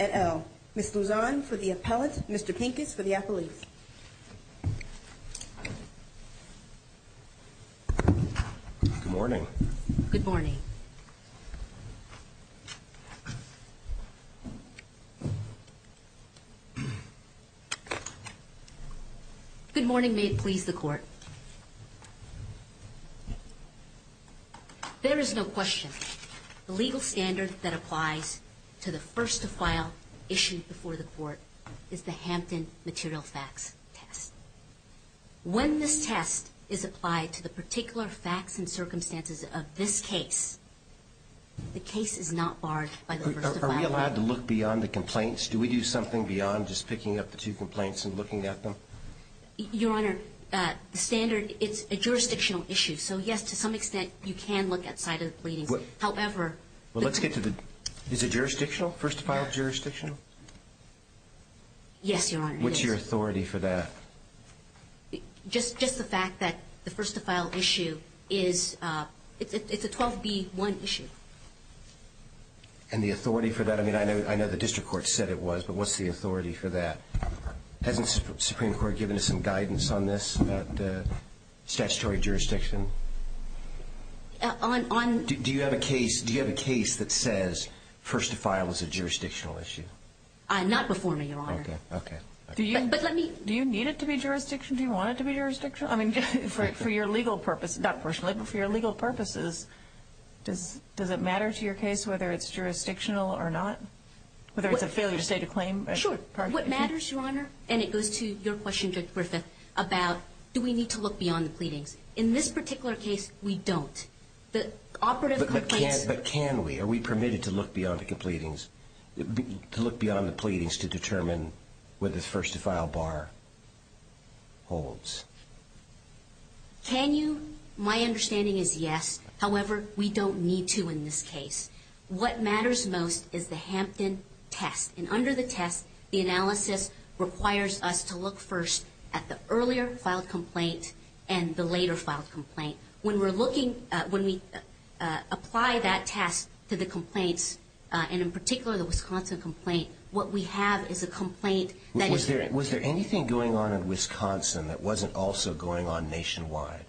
at L. Ms. Luzon for the appellant, Mr. Pincus for the appellate. Good morning. Good morning. Good morning. May it please the Court. There is no question. The legal standard that applies to the first-to-file issue before the Court is the Hampton material facts test. When this test is applied to the particular facts and circumstances of this case, the case is not barred by the first-to-file. Are we allowed to look beyond the complaints? Do we do something beyond just picking up the two complaints and looking at them? Your Honor, the standard, it's a jurisdictional issue. So, yes, to some extent, you can look at side of the pleadings. However… Well, let's get to the… Is it jurisdictional, first-to-file jurisdictional? Yes, Your Honor. What's your authority for that? Just the fact that the first-to-file issue is, it's a 12B1 issue. And the authority for that, I mean, I know the district court said it was, but what's the authority for that? Hasn't the Supreme Court given us some guidance on this, about the statutory jurisdiction? On… Do you have a case that says first-to-file is a jurisdictional issue? Not before me, Your Honor. Okay. Okay. But let me… Do you need it to be jurisdictional? Do you want it to be jurisdictional? I mean, for your legal purpose, not personally, but for your legal purposes, does it matter to your case whether it's jurisdictional or not? Whether it's a failure to state a claim? Sure. What matters, Your Honor, and it goes to your question, Judge Griffith, about do we need to look beyond the pleadings. In this particular case, we don't. The operative complaints… Do we need to look beyond the pleadings to determine whether the first-to-file bar holds? Can you… My understanding is yes. However, we don't need to in this case. What matters most is the Hampton test. And under the test, the analysis requires us to look first at the earlier-filed complaint and the later-filed complaint. When we're looking – when we apply that test to the complaints, and in particular the Wisconsin complaint, what we have is a complaint that is… Was there anything going on in Wisconsin that wasn't also going on nationwide?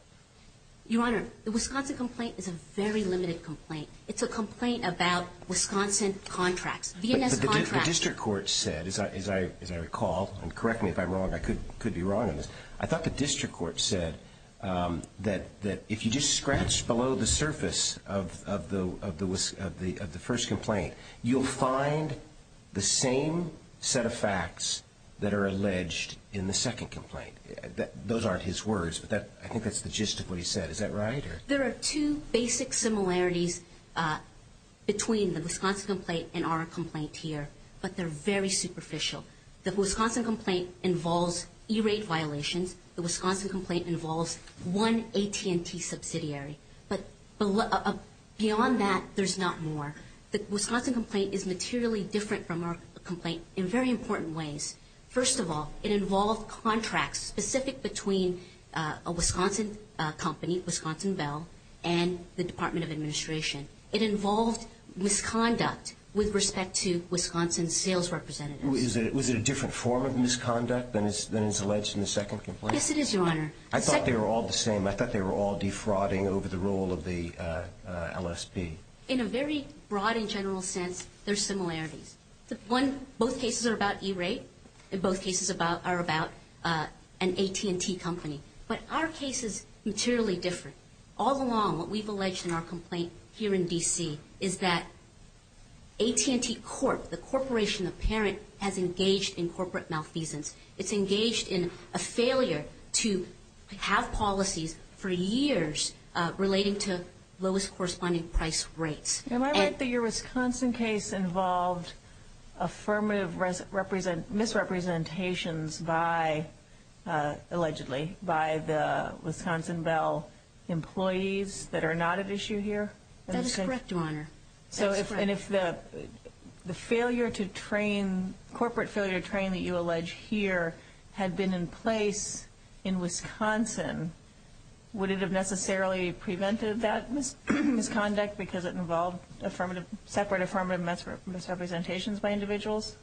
Your Honor, the Wisconsin complaint is a very limited complaint. It's a complaint about Wisconsin contracts. But the district court said, as I recall – and correct me if I'm wrong, I could be wrong on this – I thought the district court said that if you just scratch below the surface of the first complaint, you'll find the same set of facts that are alleged in the second complaint. Those aren't his words, but I think that's the gist of what he said. Is that right? There are two basic similarities between the Wisconsin complaint and our complaint here, but they're very superficial. The Wisconsin complaint involves E-rate violations. The Wisconsin complaint involves one AT&T subsidiary. But beyond that, there's not more. The Wisconsin complaint is materially different from our complaint in very important ways. First of all, it involved contracts specific between a Wisconsin company, Wisconsin Bell, and the Department of Administration. It involved misconduct with respect to Wisconsin sales representatives. Was it a different form of misconduct than is alleged in the second complaint? Yes, it is, Your Honor. I thought they were all the same. I thought they were all defrauding over the role of the LSP. In a very broad and general sense, there are similarities. Both cases are about E-rate. Both cases are about an AT&T company. But our case is materially different. All along, what we've alleged in our complaint here in D.C. is that AT&T Corp., the corporation, the parent, has engaged in corporate malfeasance. It's engaged in a failure to have policies for years relating to lowest corresponding price rates. Am I right that your Wisconsin case involved affirmative misrepresentations by, allegedly, by the Wisconsin Bell employees that are not at issue here? That is correct, Your Honor. And if the corporate failure to train that you allege here had been in place in Wisconsin, would it have necessarily prevented that misconduct because it involved separate affirmative misrepresentations by individuals?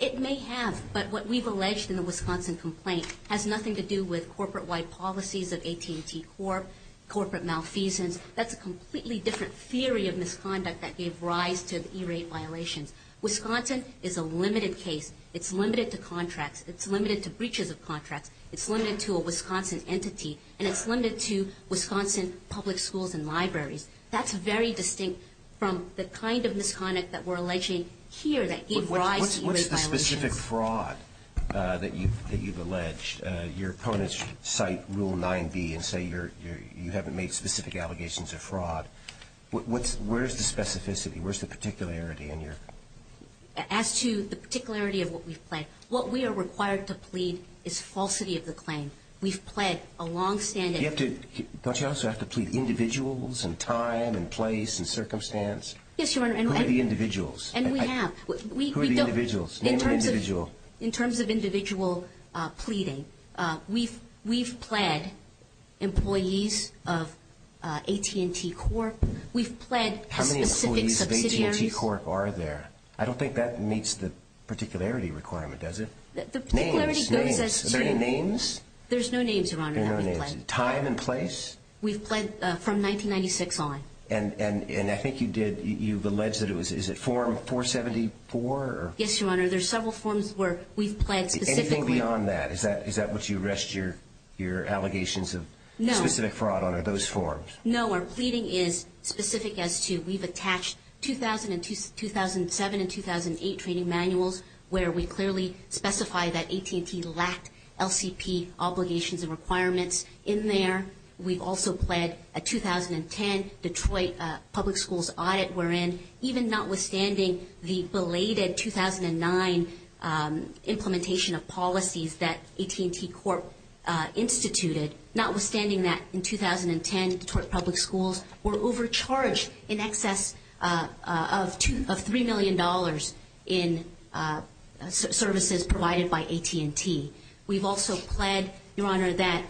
It may have. But what we've alleged in the Wisconsin complaint has nothing to do with corporate-wide policies of AT&T Corp., corporate malfeasance. That's a completely different theory of misconduct that gave rise to E-rate violations. Wisconsin is a limited case. It's limited to contracts. It's limited to breaches of contracts. It's limited to a Wisconsin entity. And it's limited to Wisconsin public schools and libraries. That's very distinct from the kind of misconduct that we're alleging here that gave rise to E-rate violations. What's the specific fraud that you've alleged? Your opponents cite Rule 9b and say you haven't made specific allegations of fraud. Where's the specificity? Where's the particularity in your ---- As to the particularity of what we've pledged, what we are required to plead is falsity of the claim. We've pled a longstanding ---- Don't you also have to plead individuals and time and place and circumstance? Yes, Your Honor. Who are the individuals? And we have. Who are the individuals? Name an individual. In terms of individual pleading, we've pled employees of AT&T Corp. We've pled specific subsidiaries. How many employees of AT&T Corp. are there? I don't think that meets the particularity requirement, does it? The particularity goes as to ---- Names. Names. Are there any names? There's no names, Your Honor, that we've pled. No names. Time and place? We've pled from 1996 on. And I think you did, you've alleged that it was, is it Form 474 or ---- Yes, Your Honor. There's several forms where we've pled specifically ---- Anything beyond that? Is that what you rest your allegations of specific fraud on, are those forms? No. No, our pleading is specific as to we've attached 2000 and 2007 and 2008 training manuals where we clearly specify that AT&T lacked LCP obligations and requirements in there. We've also pled a 2010 Detroit Public Schools audit wherein, even notwithstanding the belated 2009 implementation of policies that AT&T Corp. instituted, notwithstanding that in 2010 Detroit Public Schools were overcharged in excess of $3 million in services provided by AT&T. We've also pled, Your Honor, that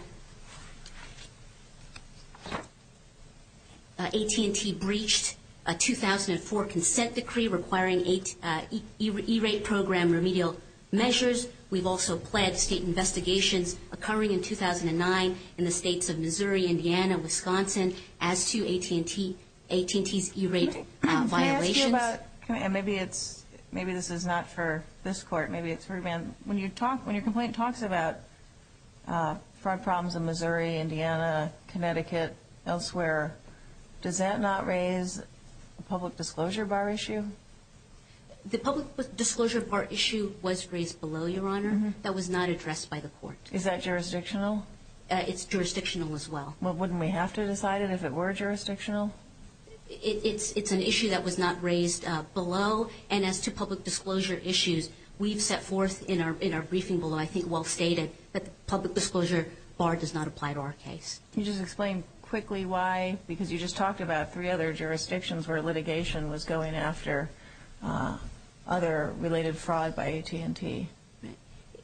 AT&T breached a 2004 consent decree requiring E-rate program remedial measures. We've also pled state investigations occurring in 2009 in the states of Missouri, Indiana, Wisconsin, as to AT&T's E-rate violations. Maybe this is not for this Court. Maybe it's for ---- When your complaint talks about fraud problems in Missouri, Indiana, Connecticut, elsewhere, does that not raise a public disclosure bar issue? The public disclosure bar issue was raised below, Your Honor. That was not addressed by the Court. Is that jurisdictional? It's jurisdictional as well. Wouldn't we have to decide it if it were jurisdictional? It's an issue that was not raised below. And as to public disclosure issues, we've set forth in our briefing below, I think well stated, that the public disclosure bar does not apply to our case. Can you just explain quickly why? Because you just talked about three other jurisdictions where litigation was going after other related fraud by AT&T.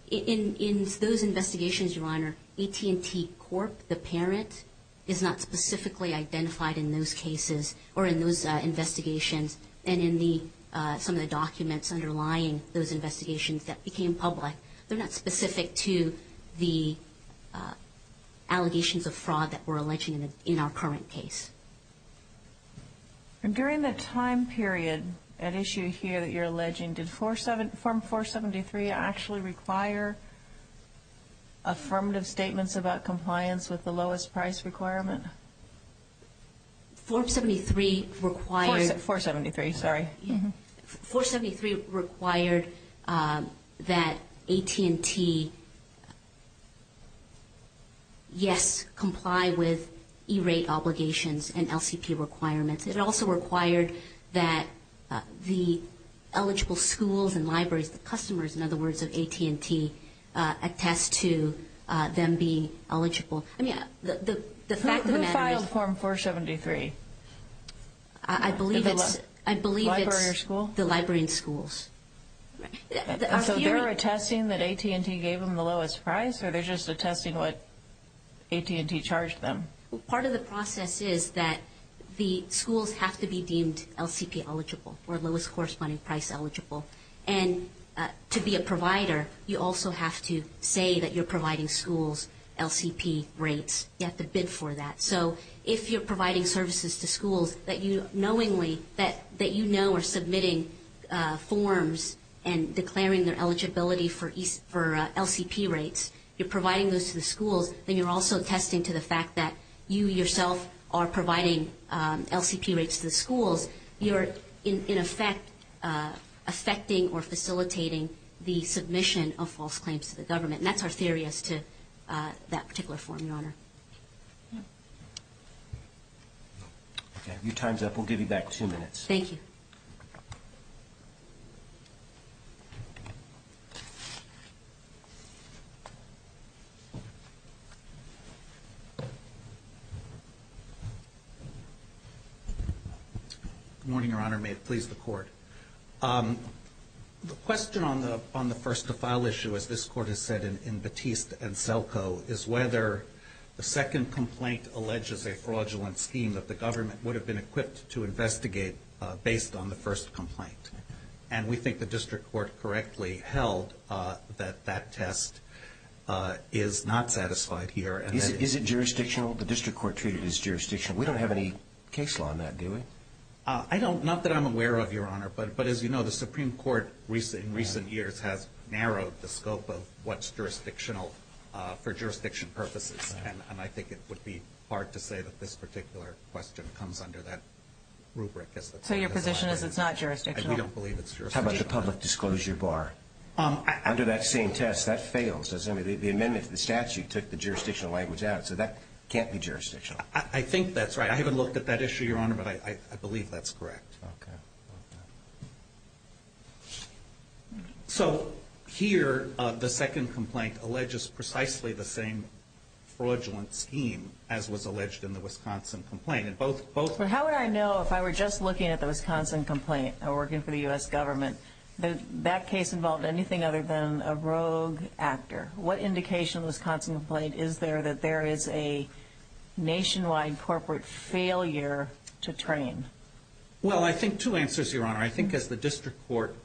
In those investigations, Your Honor, AT&T Corp., the parent, is not specifically identified in those cases or in those investigations and in some of the documents underlying those investigations that became public. They're not specific to the allegations of fraud that we're alleging in our current case. During the time period at issue here that you're alleging, did Form 473 actually require affirmative statements about compliance with the lowest price requirement? Form 473 required that AT&T, yes, comply with E-rate obligations and LCP requirements. It also required that the eligible schools and libraries, the customers, in other words, of AT&T, attest to them being eligible. Who filed Form 473? I believe it's the library and schools. So they're attesting that AT&T gave them the lowest price or they're just attesting what AT&T charged them? Part of the process is that the schools have to be deemed LCP eligible or lowest corresponding price eligible. And to be a provider, you also have to say that you're providing schools LCP rates. You have to bid for that. So if you're providing services to schools that you knowingly, that you know are submitting forms and declaring their eligibility for LCP rates, you're providing those to the schools, then you're also attesting to the fact that you yourself are providing LCP rates to the schools. You're, in effect, affecting or facilitating the submission of false claims to the government. And that's our theory as to that particular form, Your Honor. Okay. Your time's up. We'll give you back two minutes. Thank you. Good morning, Your Honor. May it please the Court. The question on the first-to-file issue, as this Court has said in Batiste and Selko, is whether the second complaint alleges a fraudulent scheme that the government would have been equipped to investigate based on the first complaint. And we think the district court correctly held that that test is not satisfied here. Is it jurisdictional? The district court treated it as jurisdictional. We don't have any case law on that, do we? I don't. Not that I'm aware of, Your Honor. But as you know, the Supreme Court in recent years has narrowed the scope of what's jurisdictional for jurisdiction purposes. And I think it would be hard to say that this particular question comes under that rubric. So your position is it's not jurisdictional? We don't believe it's jurisdictional. How about the public disclosure bar? Under that same test, that fails, doesn't it? The amendment to the statute took the jurisdictional language out. So that can't be jurisdictional. I think that's right. I haven't looked at that issue, Your Honor, but I believe that's correct. Okay. So here the second complaint alleges precisely the same fraudulent scheme as was alleged in the Wisconsin complaint. How would I know if I were just looking at the Wisconsin complaint, working for the U.S. government, that that case involved anything other than a rogue actor? What indication of the Wisconsin complaint is there that there is a nationwide corporate failure to train? Well, I think two answers, Your Honor. I think as the district court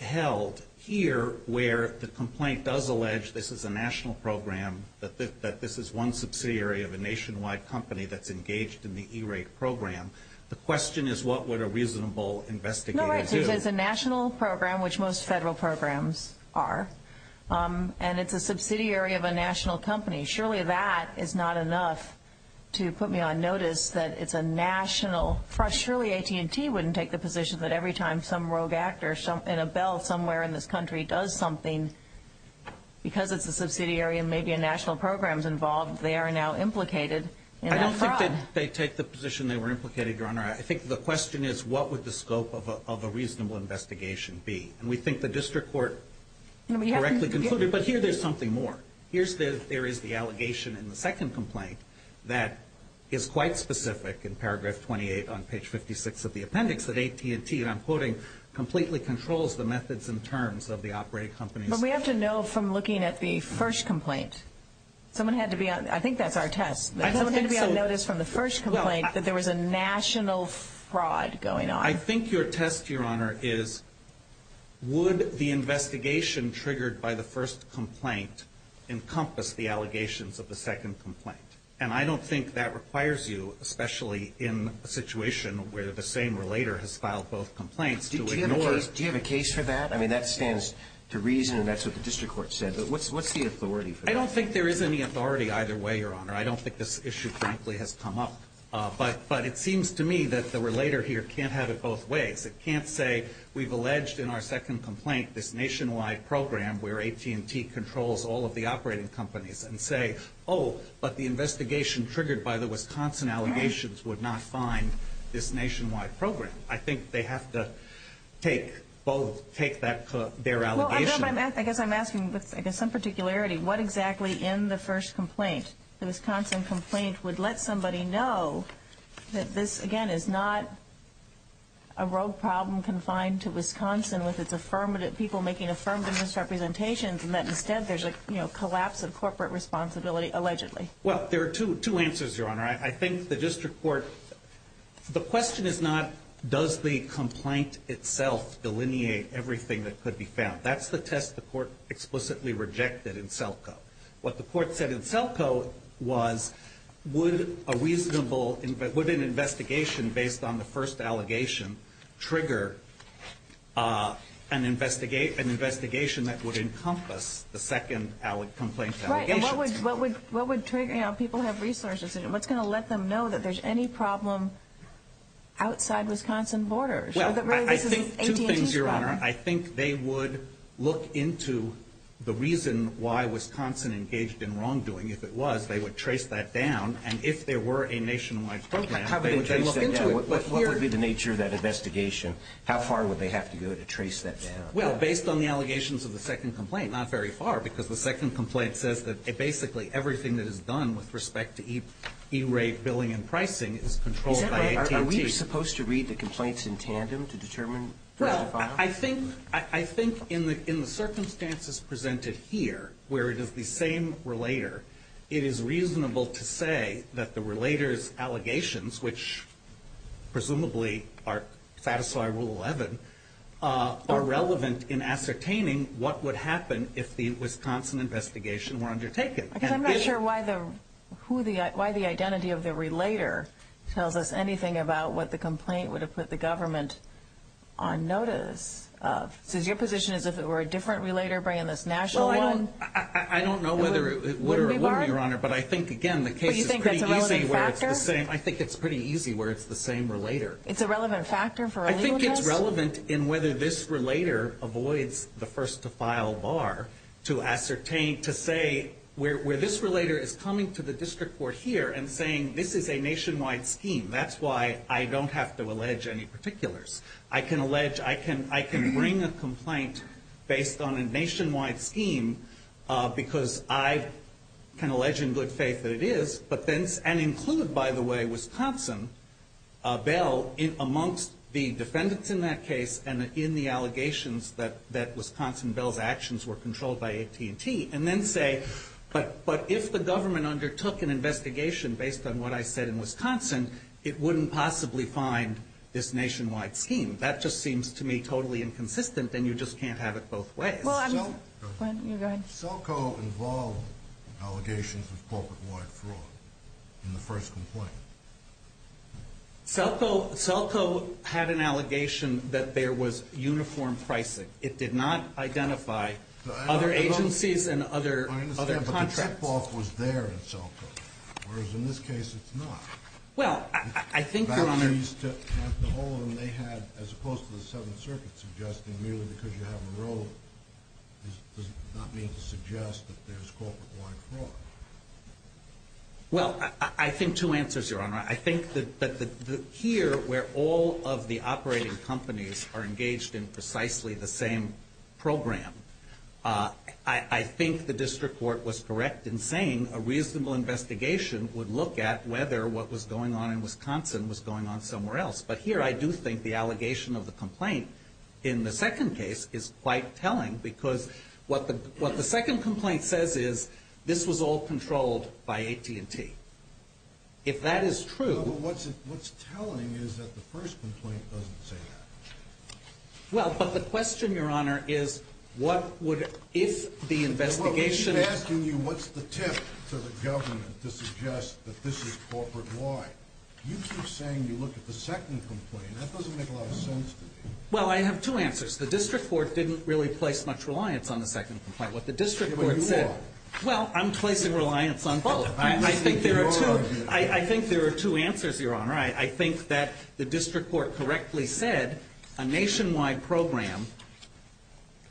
held here where the complaint does allege this is a national program, that this is one subsidiary of a nationwide company that's engaged in the E-rate program, the question is what would a reasonable investigator do? Because it's a national program, which most federal programs are, and it's a subsidiary of a national company. Surely that is not enough to put me on notice that it's a national. Surely AT&T wouldn't take the position that every time some rogue actor in a belt somewhere in this country does something, because it's a subsidiary and maybe a national program is involved, they are now implicated in that fraud. I don't think that they take the position they were implicated, Your Honor. I think the question is what would the scope of a reasonable investigation be? And we think the district court correctly concluded. But here there's something more. There is the allegation in the second complaint that is quite specific in paragraph 28 on page 56 of the appendix that AT&T, and I'm quoting, completely controls the methods and terms of the operating companies. But we have to know from looking at the first complaint. Someone had to be on, I think that's our test. I don't think so. I noticed from the first complaint that there was a national fraud going on. I think your test, Your Honor, is would the investigation triggered by the first complaint encompass the allegations of the second complaint? And I don't think that requires you, especially in a situation where the same relator has filed both complaints, to ignore. Do you have a case for that? I mean, that stands to reason and that's what the district court said. But what's the authority for that? I don't think this issue, frankly, has come up. But it seems to me that the relator here can't have it both ways. It can't say we've alleged in our second complaint this nationwide program where AT&T controls all of the operating companies and say, oh, but the investigation triggered by the Wisconsin allegations would not find this nationwide program. I think they have to take both, take their allegation. I guess I'm asking with some particularity, what exactly in the first complaint, the Wisconsin complaint, would let somebody know that this, again, is not a rogue problem confined to Wisconsin with its affirmative people making affirmative misrepresentations and that instead there's a collapse of corporate responsibility allegedly? Well, there are two answers, Your Honor. I think the district court, the question is not does the complaint itself delineate everything that could be found. That's the test the court explicitly rejected in SELCO. What the court said in SELCO was would a reasonable, would an investigation based on the first allegation trigger an investigation that would encompass the second complaint's allegations? Right, and what would trigger, you know, people have resources, what's going to let them know that there's any problem outside Wisconsin borders? Well, I think two things, Your Honor. I think they would look into the reason why Wisconsin engaged in wrongdoing. If it was, they would trace that down, and if there were a nationwide program, they would then look into it. What would be the nature of that investigation? How far would they have to go to trace that down? Well, based on the allegations of the second complaint, not very far, because the second complaint says that basically everything that is done with respect to E-rate billing and pricing is controlled by AT&T. Were we supposed to read the complaints in tandem to determine first or final? Well, I think in the circumstances presented here, where it is the same relator, it is reasonable to say that the relator's allegations, which presumably are satisfied Rule 11, are relevant in ascertaining what would happen if the Wisconsin investigation were undertaken. I'm not sure why the identity of the relator tells us anything about what the complaint would have put the government on notice of. So is your position as if it were a different relator bringing this national one? Well, I don't know whether it would or wouldn't, Your Honor, but I think, again, the case is pretty easy where it's the same. I think it's pretty easy where it's the same relator. It's a relevant factor for a legal test? I think it's relevant in whether this relator avoids the first to file bar to ascertain, to say where this relator is coming to the district court here and saying this is a nationwide scheme. That's why I don't have to allege any particulars. I can bring a complaint based on a nationwide scheme because I can allege in good faith that it is, and include, by the way, Wisconsin, Bell, amongst the defendants in that case and in the allegations that Wisconsin, Bell's actions were controlled by AT&T. And then say, but if the government undertook an investigation based on what I said in Wisconsin, it wouldn't possibly find this nationwide scheme. That just seems to me totally inconsistent, and you just can't have it both ways. Well, I'm going to go ahead. Selco involved allegations of corporate-wide fraud in the first complaint. Selco had an allegation that there was uniform pricing. It did not identify other agencies and other contracts. I understand, but the tip-off was there in Selco, whereas in this case it's not. Well, I think, Your Honor. The whole of them they had, as opposed to the Seventh Circuit, suggesting merely because you have a role does not mean to suggest that there's corporate-wide fraud. Well, I think two answers, Your Honor. I think that here where all of the operating companies are engaged in precisely the same program, I think the district court was correct in saying a reasonable investigation would look at whether what was going on in Wisconsin was going on somewhere else. But here I do think the allegation of the complaint in the second case is quite telling because what the second complaint says is this was all controlled by AT&T. If that is true. No, but what's telling is that the first complaint doesn't say that. Well, but the question, Your Honor, is what would, if the investigation. I'm asking you what's the tip to the government to suggest that this is corporate-wide. You keep saying you look at the second complaint. That doesn't make a lot of sense to me. Well, I have two answers. The district court didn't really place much reliance on the second complaint. What the district court said. But you are. Well, I'm placing reliance on both. I think there are two answers, Your Honor. I think that the district court correctly said a nationwide program,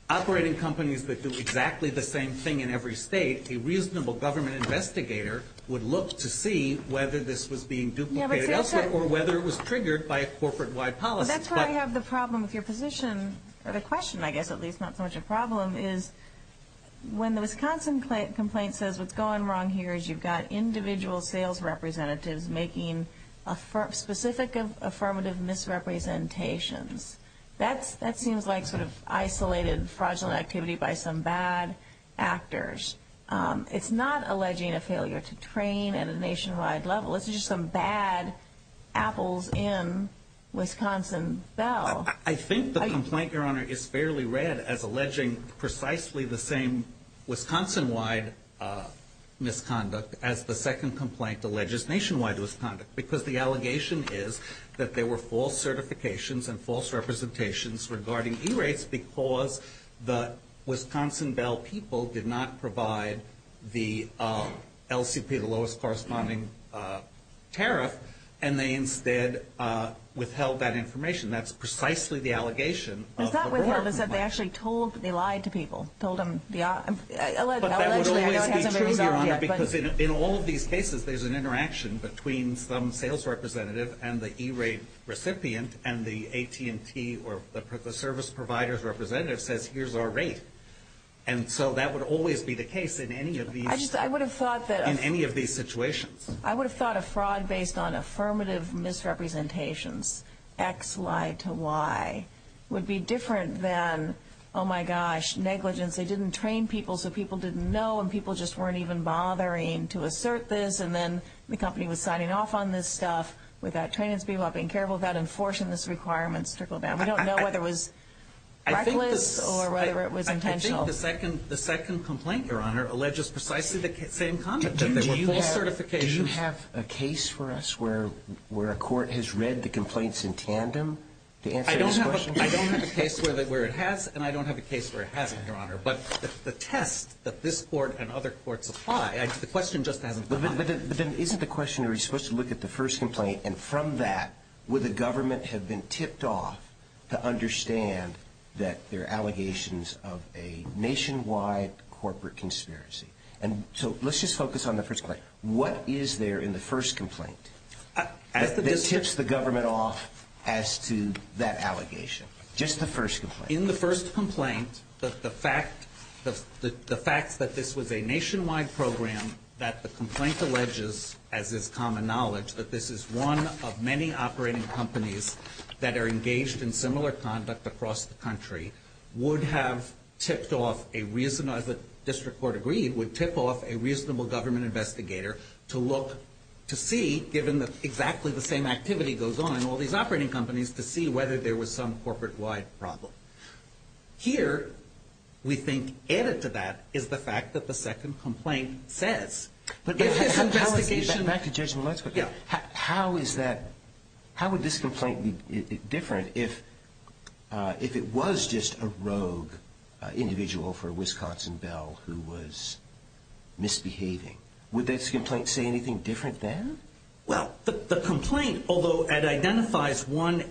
operating companies that do exactly the same thing in every state, a reasonable government investigator would look to see whether this was being duplicated elsewhere or whether it was triggered by a corporate-wide policy. That's where I have the problem with your position, or the question, I guess, at least not so much a problem is when the Wisconsin complaint says what's going wrong here is you've got individual sales representatives making specific affirmative misrepresentations. That seems like sort of isolated fraudulent activity by some bad actors. It's not alleging a failure to train at a nationwide level. It's just some bad apples in Wisconsin Bell. I think the complaint, Your Honor, is fairly red as alleging precisely the same Wisconsin-wide misconduct as the second complaint alleges nationwide misconduct, because the allegation is that there were false certifications and false representations regarding E-rates because the Wisconsin Bell people did not provide the LCP, the lowest corresponding tariff, and they instead withheld that information. That's precisely the allegation of the board complaint. But is that withheld? Is that they actually told, they lied to people, told them, allegedly, I know it hasn't been resolved yet. But that would always be true, Your Honor, because in all of these cases, there's an interaction between some sales representative and the E-rate recipient, and the AT&T or the service provider's representative says, here's our rate. And so that would always be the case in any of these situations. I would have thought that a fraud based on affirmative misrepresentations, X lied to Y, would be different than, oh, my gosh, negligence. They didn't train people so people didn't know and people just weren't even bothering to assert this, and then the company was signing off on this stuff without training its people, without being careful, without enforcing these requirements to go down. We don't know whether it was reckless or whether it was intentional. I think the second complaint, Your Honor, alleges precisely the same conduct, that there were false certifications. Do you have a case for us where a court has read the complaints in tandem to answer this question? I don't have a case where it has, and I don't have a case where it hasn't, Your Honor. But the test that this court and other courts apply, the question just hasn't come up. But then isn't the question, are we supposed to look at the first complaint, and from that, would the government have been tipped off to understand that there are allegations of a nationwide corporate conspiracy? And so let's just focus on the first complaint. What is there in the first complaint that tips the government off as to that allegation? Just the first complaint. In the first complaint, the fact that this was a nationwide program, that the complaint alleges, as is common knowledge, that this is one of many operating companies that are engaged in similar conduct across the country, would have tipped off a reasonable, as the district court agreed, would tip off a reasonable government investigator to look to see, given that exactly the same activity goes on in all these operating companies, to see whether there was some corporate-wide problem. Here, we think added to that is the fact that the second complaint says. But how is that? Back to the judgment of the legislature. Yeah. How is that? How would this complaint be different if it was just a rogue individual for Wisconsin Bell who was misbehaving? Would this complaint say anything different then? Well, the complaint, although it identifies one,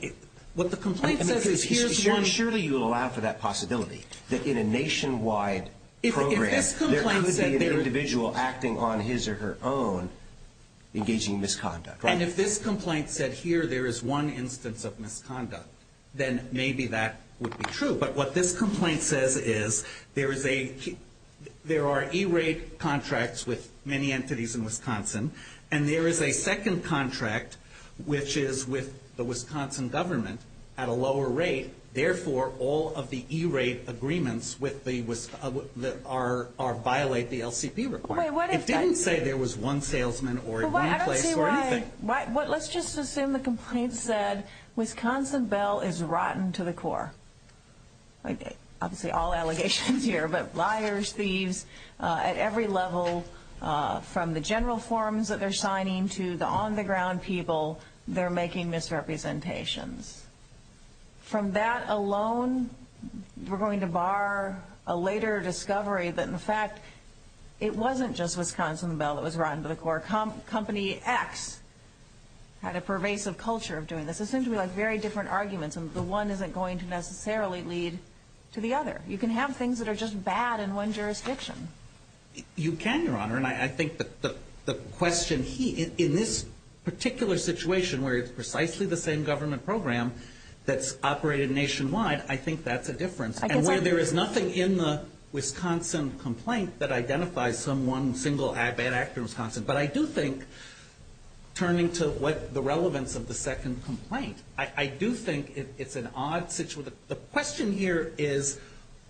what the complaint says is here's one. Surely you'll allow for that possibility, that in a nationwide program, there could be an individual acting on his or her own engaging in misconduct. And if this complaint said here there is one instance of misconduct, then maybe that would be true. But what this complaint says is there are E-rate contracts with many entities in Wisconsin, and there is a second contract which is with the Wisconsin government at a lower rate. Therefore, all of the E-rate agreements violate the LCP requirement. It didn't say there was one salesman or one place or anything. Let's just assume the complaint said Wisconsin Bell is rotten to the core. Obviously, all allegations here, but liars, thieves at every level, from the general forms that they're signing to the on-the-ground people, they're making misrepresentations. From that alone, we're going to bar a later discovery that, in fact, it wasn't just Wisconsin Bell that was rotten to the core. Company X had a pervasive culture of doing this. It seemed to me like very different arguments, and the one isn't going to necessarily lead to the other. You can have things that are just bad in one jurisdiction. You can, Your Honor. And I think the question here, in this particular situation where it's precisely the same government program that's operated nationwide, I think that's a difference. And where there is nothing in the Wisconsin complaint that identifies some one single bad actor in Wisconsin. But I do think, turning to what the relevance of the second complaint, I do think it's an odd situation. The question here is,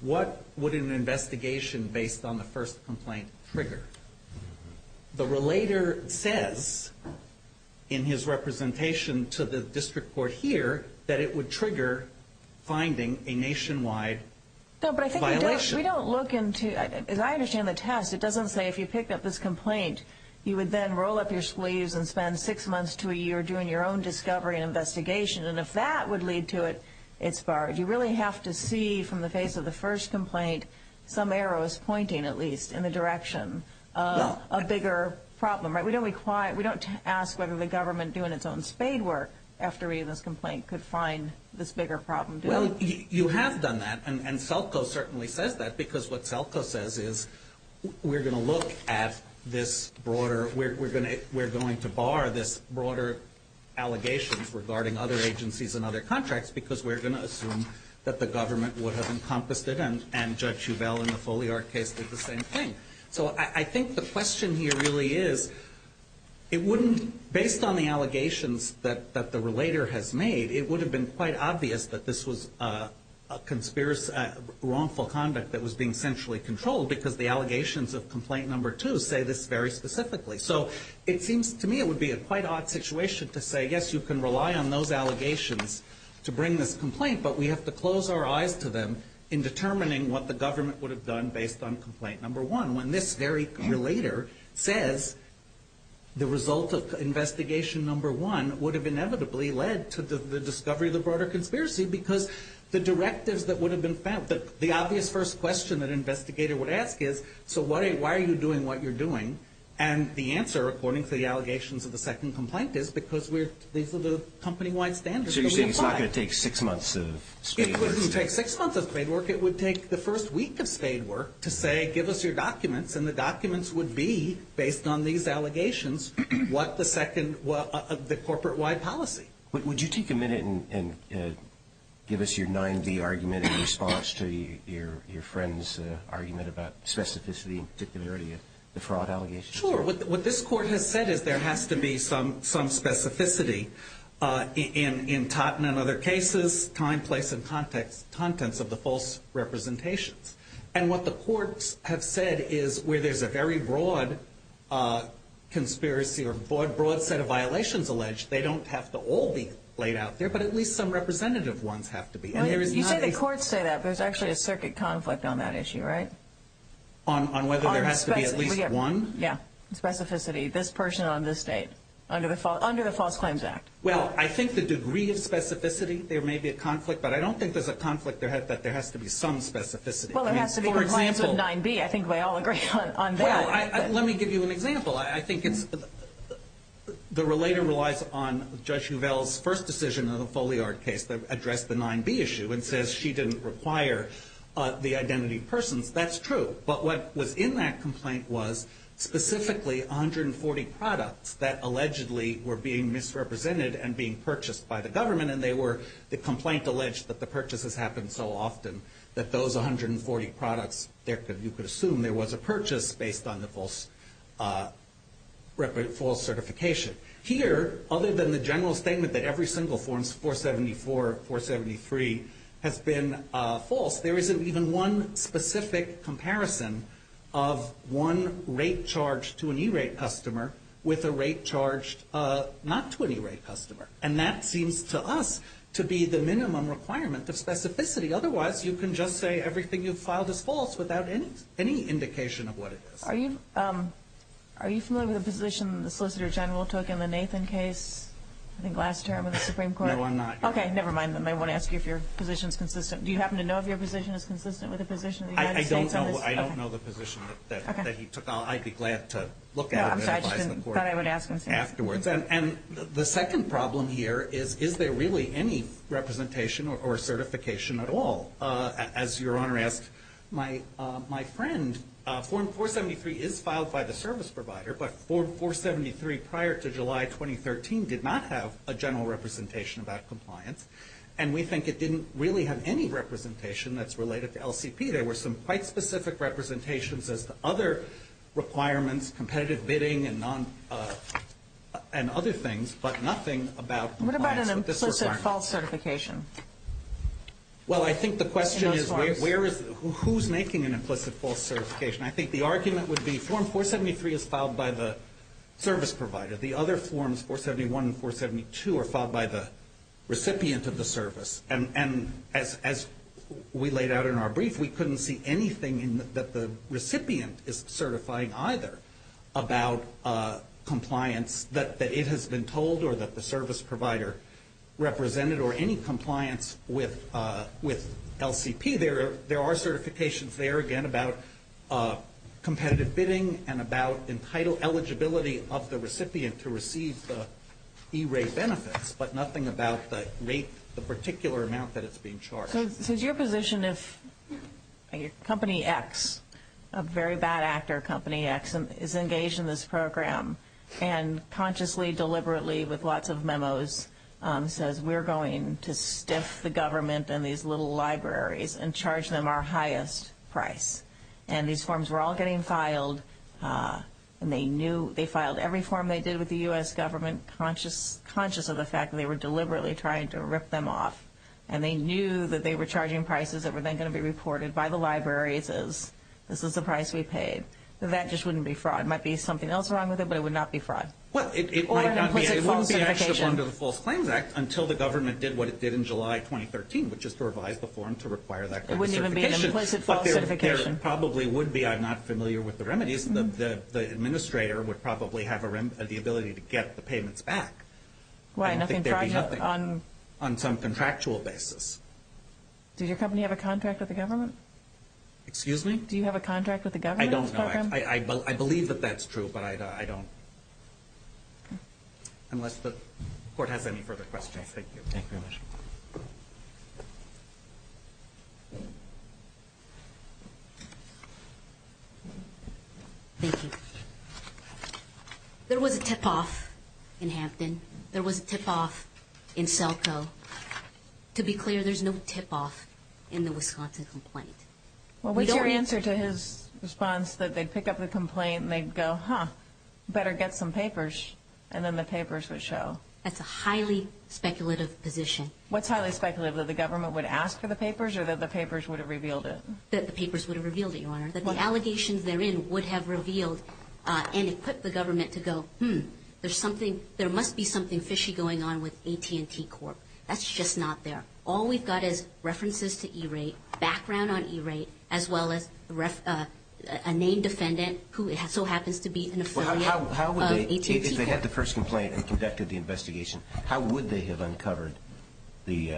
what would an investigation based on the first complaint trigger? The relator says, in his representation to the district court here, that it would trigger finding a nationwide violation. No, but I think we don't look into, as I understand the test, it doesn't say if you pick up this complaint, you would then roll up your sleeves and spend six months to a year doing your own discovery and investigation. And if that would lead to it, it's barred. You really have to see, from the face of the first complaint, some arrows pointing, at least, in the direction of a bigger problem. We don't ask whether the government doing its own spade work after reading this complaint could find this bigger problem. Well, you have done that, and SELCO certainly says that, because what SELCO says is, we're going to look at this broader, we're going to bar this broader allegations regarding other agencies and other contracts, because we're going to assume that the government would have encompassed it, and Judge Hubell in the Foliart case did the same thing. So I think the question here really is, it wouldn't, based on the allegations that the relator has made, it would have been quite obvious that this was a wrongful conduct that was being centrally controlled, because the allegations of complaint number two say this very specifically. So it seems to me it would be a quite odd situation to say, yes, you can rely on those allegations to bring this complaint, but we have to close our eyes to them in determining what the government would have done based on complaint number one, when this very relator says the result of investigation number one would have inevitably led to the discovery of the broader conspiracy, because the directives that would have been found, the obvious first question that an investigator would ask is, so why are you doing what you're doing, and the answer, according to the allegations of the second complaint, is because these are the company-wide standards that we apply. So you're saying it's not going to take six months of spade work? It wouldn't take six months of spade work. It would take the first week of spade work to say, give us your documents, and the documents would be, based on these allegations, what the second, the corporate-wide policy. Would you take a minute and give us your 9-D argument in response to your friend's argument about specificity, particularly the fraud allegations? Sure. What this court has said is there has to be some specificity in Totten and other cases, time, place, and contents of the false representations. And what the courts have said is where there's a very broad conspiracy or broad set of violations alleged, they don't have to all be laid out there, but at least some representative ones have to be. You say the courts say that, but there's actually a circuit conflict on that issue, right? On whether there has to be at least one? Yeah, specificity, this person on this date, under the False Claims Act. Well, I think the degree of specificity, there may be a conflict, but I don't think there's a conflict that there has to be some specificity. Well, there has to be compliance with 9-B. I think we all agree on that. Well, let me give you an example. I think the relator relies on Judge Huvel's first decision in the Foliard case that addressed the 9-B issue and says she didn't require the identity of persons. That's true. But what was in that complaint was specifically 140 products that allegedly were being misrepresented and being purchased by the government, and the complaint alleged that the purchases happened so often that those 140 products, you could assume there was a purchase based on the false certification. Here, other than the general statement that every single form, 474, 473, has been false, there isn't even one specific comparison of one rate charged to an E-rate customer with a rate charged not to an E-rate customer, and that seems to us to be the minimum requirement of specificity. Otherwise, you can just say everything you've filed is false without any indication of what it is. Are you familiar with the position the Solicitor General took in the Nathan case? I think last term of the Supreme Court. No, I'm not. Okay, never mind. I won't ask you if your position is consistent. Do you happen to know if your position is consistent with the position of the United States on this? I don't know the position that he took. I'd be glad to look at it and advise the court afterwards. The second problem here is, is there really any representation or certification at all? As your Honor asked my friend, form 473 is filed by the service provider, but form 473 prior to July 2013 did not have a general representation about compliance, and we think it didn't really have any representation that's related to LCP. There were some quite specific representations as to other requirements, competitive bidding and other things, but nothing about compliance with this requirement. What about an implicit false certification? Well, I think the question is, who's making an implicit false certification? I think the argument would be form 473 is filed by the service provider. The other forms, 471 and 472, are filed by the recipient of the service. And as we laid out in our brief, we couldn't see anything that the recipient is certifying either about compliance that it has been told or that the service provider represented or any compliance with LCP. There are certifications there, again, about competitive bidding and about entitle eligibility of the recipient to receive the e-rate benefits, but nothing about the rate, the particular amount that it's being charged. So is your position if Company X, a very bad actor, Company X, is engaged in this program and consciously, deliberately, with lots of memos, says, we're going to stiff the government and these little libraries and charge them our highest price. And these forms were all getting filed, and they knew, they filed every form they did with the U.S. government, conscious of the fact that they were deliberately trying to rip them off. And they knew that they were charging prices that were then going to be reported by the libraries as this is the price we paid. That just wouldn't be fraud. It might be something else wrong with it, but it would not be fraud. Or an implicit false certification. Well, it might not be. It wouldn't be actually under the False Claims Act until the government did what it did in July 2013, which is to revise the form to require that kind of certification. It wouldn't even be an implicit false certification. There probably would be. I'm not familiar with the remedies. The administrator would probably have the ability to get the payments back. Why? I don't think there'd be nothing. On some contractual basis. Did your company have a contract with the government? Excuse me? Do you have a contract with the government on this program? I don't know. I believe that that's true, but I don't. Unless the court has any further questions. Thank you. Thank you very much. Thank you. There was a tip-off in Hampton. There was a tip-off in Selkow. To be clear, there's no tip-off in the Wisconsin complaint. Well, what's your answer to his response that they'd pick up the complaint and they'd go, huh, better get some papers, and then the papers would show? That's a highly speculative position. What's highly speculative, that the government would ask for the papers or that the papers would have revealed it? That the papers would have revealed it, Your Honor. That the allegations therein would have revealed and equipped the government to go, hmm, there must be something fishy going on with AT&T Corp. That's just not there. All we've got is references to E-Rate, background on E-Rate, as well as a named defendant who so happens to be an affiliate of AT&T Corp. If they had the first complaint and conducted the investigation, how would they have uncovered the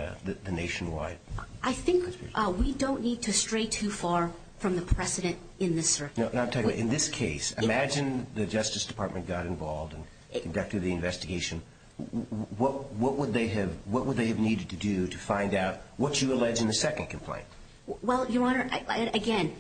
nationwide conspiracy? I think we don't need to stray too far from the precedent in this circuit. In this case, imagine the Justice Department got involved and conducted the investigation. What would they have needed to do to find out what you allege in the second complaint? Well, Your Honor, again,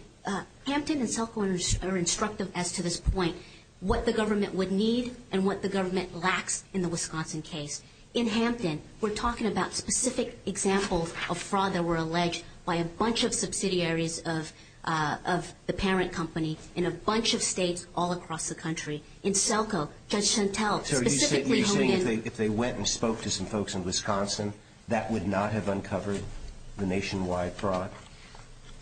Hampton and Selkow are instructive as to this point, what the government would need and what the government lacks in the Wisconsin case. In Hampton, we're talking about specific examples of fraud that were alleged by a bunch of subsidiaries of the parent company in a bunch of states all across the country. In Selkow, Judge Chantelle specifically hung in. So you're saying if they went and spoke to some folks in Wisconsin, that would not have uncovered the nationwide fraud?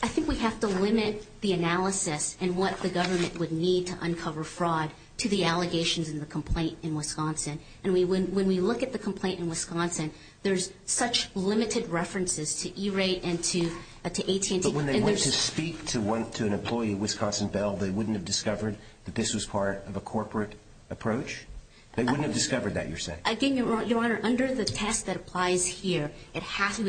I think we have to limit the analysis and what the government would need to uncover fraud to the allegations in the complaint in Wisconsin. And when we look at the complaint in Wisconsin, there's such limited references to E-rate and to AT&T. But when they went to speak to an employee at Wisconsin Bell, they wouldn't have discovered that this was part of a corporate approach? They wouldn't have discovered that, you're saying? Again, Your Honor, under the test that applies here, we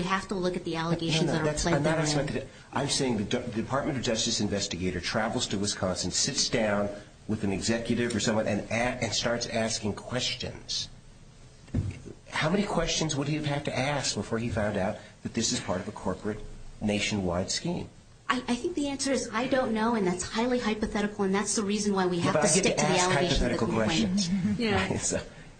have to look at the allegations in our complaint. I'm saying the Department of Justice investigator travels to Wisconsin, sits down with an executive or someone, and starts asking questions. How many questions would he have had to ask before he found out that this is part of a corporate nationwide scheme? I think the answer is I don't know, and that's highly hypothetical, and that's the reason why we have to stick to the allegations in the complaint.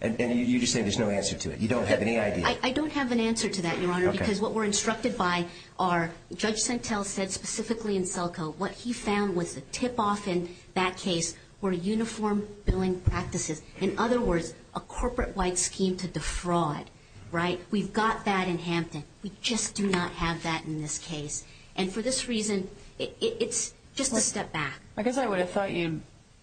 And you're just saying there's no answer to it. You don't have any idea. I don't have an answer to that, Your Honor, because what we're instructed by are, Judge Chantelle said specifically in Selkow, what he found was the tip-off in that case were uniform billing practices. In other words, a corporate-wide scheme to defraud, right? We've got that in Hampton. We just do not have that in this case. And for this reason, it's just a step back. I guess I would have thought you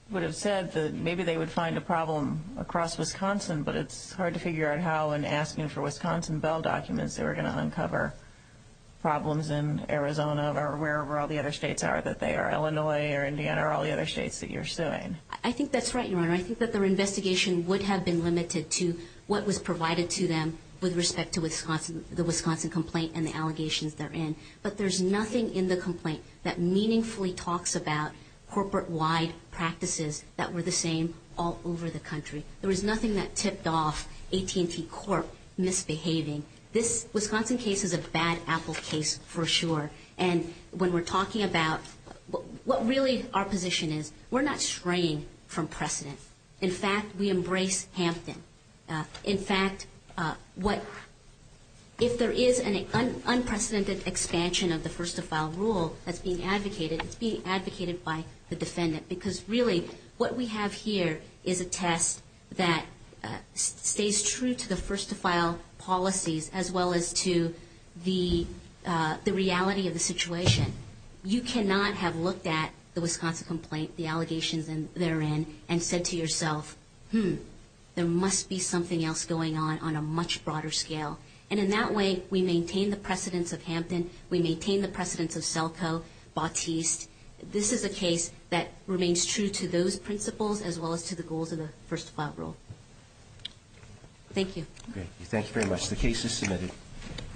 would have said that maybe they would find a problem across Wisconsin, but it's hard to figure out how in asking for Wisconsin Bell documents they were going to uncover problems in Arizona or wherever all the other states are that they are. Illinois or Indiana or all the other states that you're suing. I think that's right, Your Honor. I think that their investigation would have been limited to what was provided to them with respect to the Wisconsin complaint and the allegations they're in. But there's nothing in the complaint that meaningfully talks about corporate-wide practices that were the same all over the country. There was nothing that tipped off AT&T Corp. misbehaving. This Wisconsin case is a bad apple case for sure, and when we're talking about what really our position is, we're not straying from precedent. In fact, we embrace Hampton. In fact, if there is an unprecedented expansion of the first-to-file rule that's being advocated, it's being advocated by the defendant, because really what we have here is a test that stays true to the first-to-file policies as well as to the reality of the situation. You cannot have looked at the Wisconsin complaint, the allegations they're in, and said to yourself, hmm, there must be something else going on on a much broader scale. And in that way, we maintain the precedence of Hampton. We maintain the precedence of Selco, Batiste. This is a case that remains true to those principles as well as to the goals of the first-to-file rule. Thank you. Thank you very much. The case is submitted.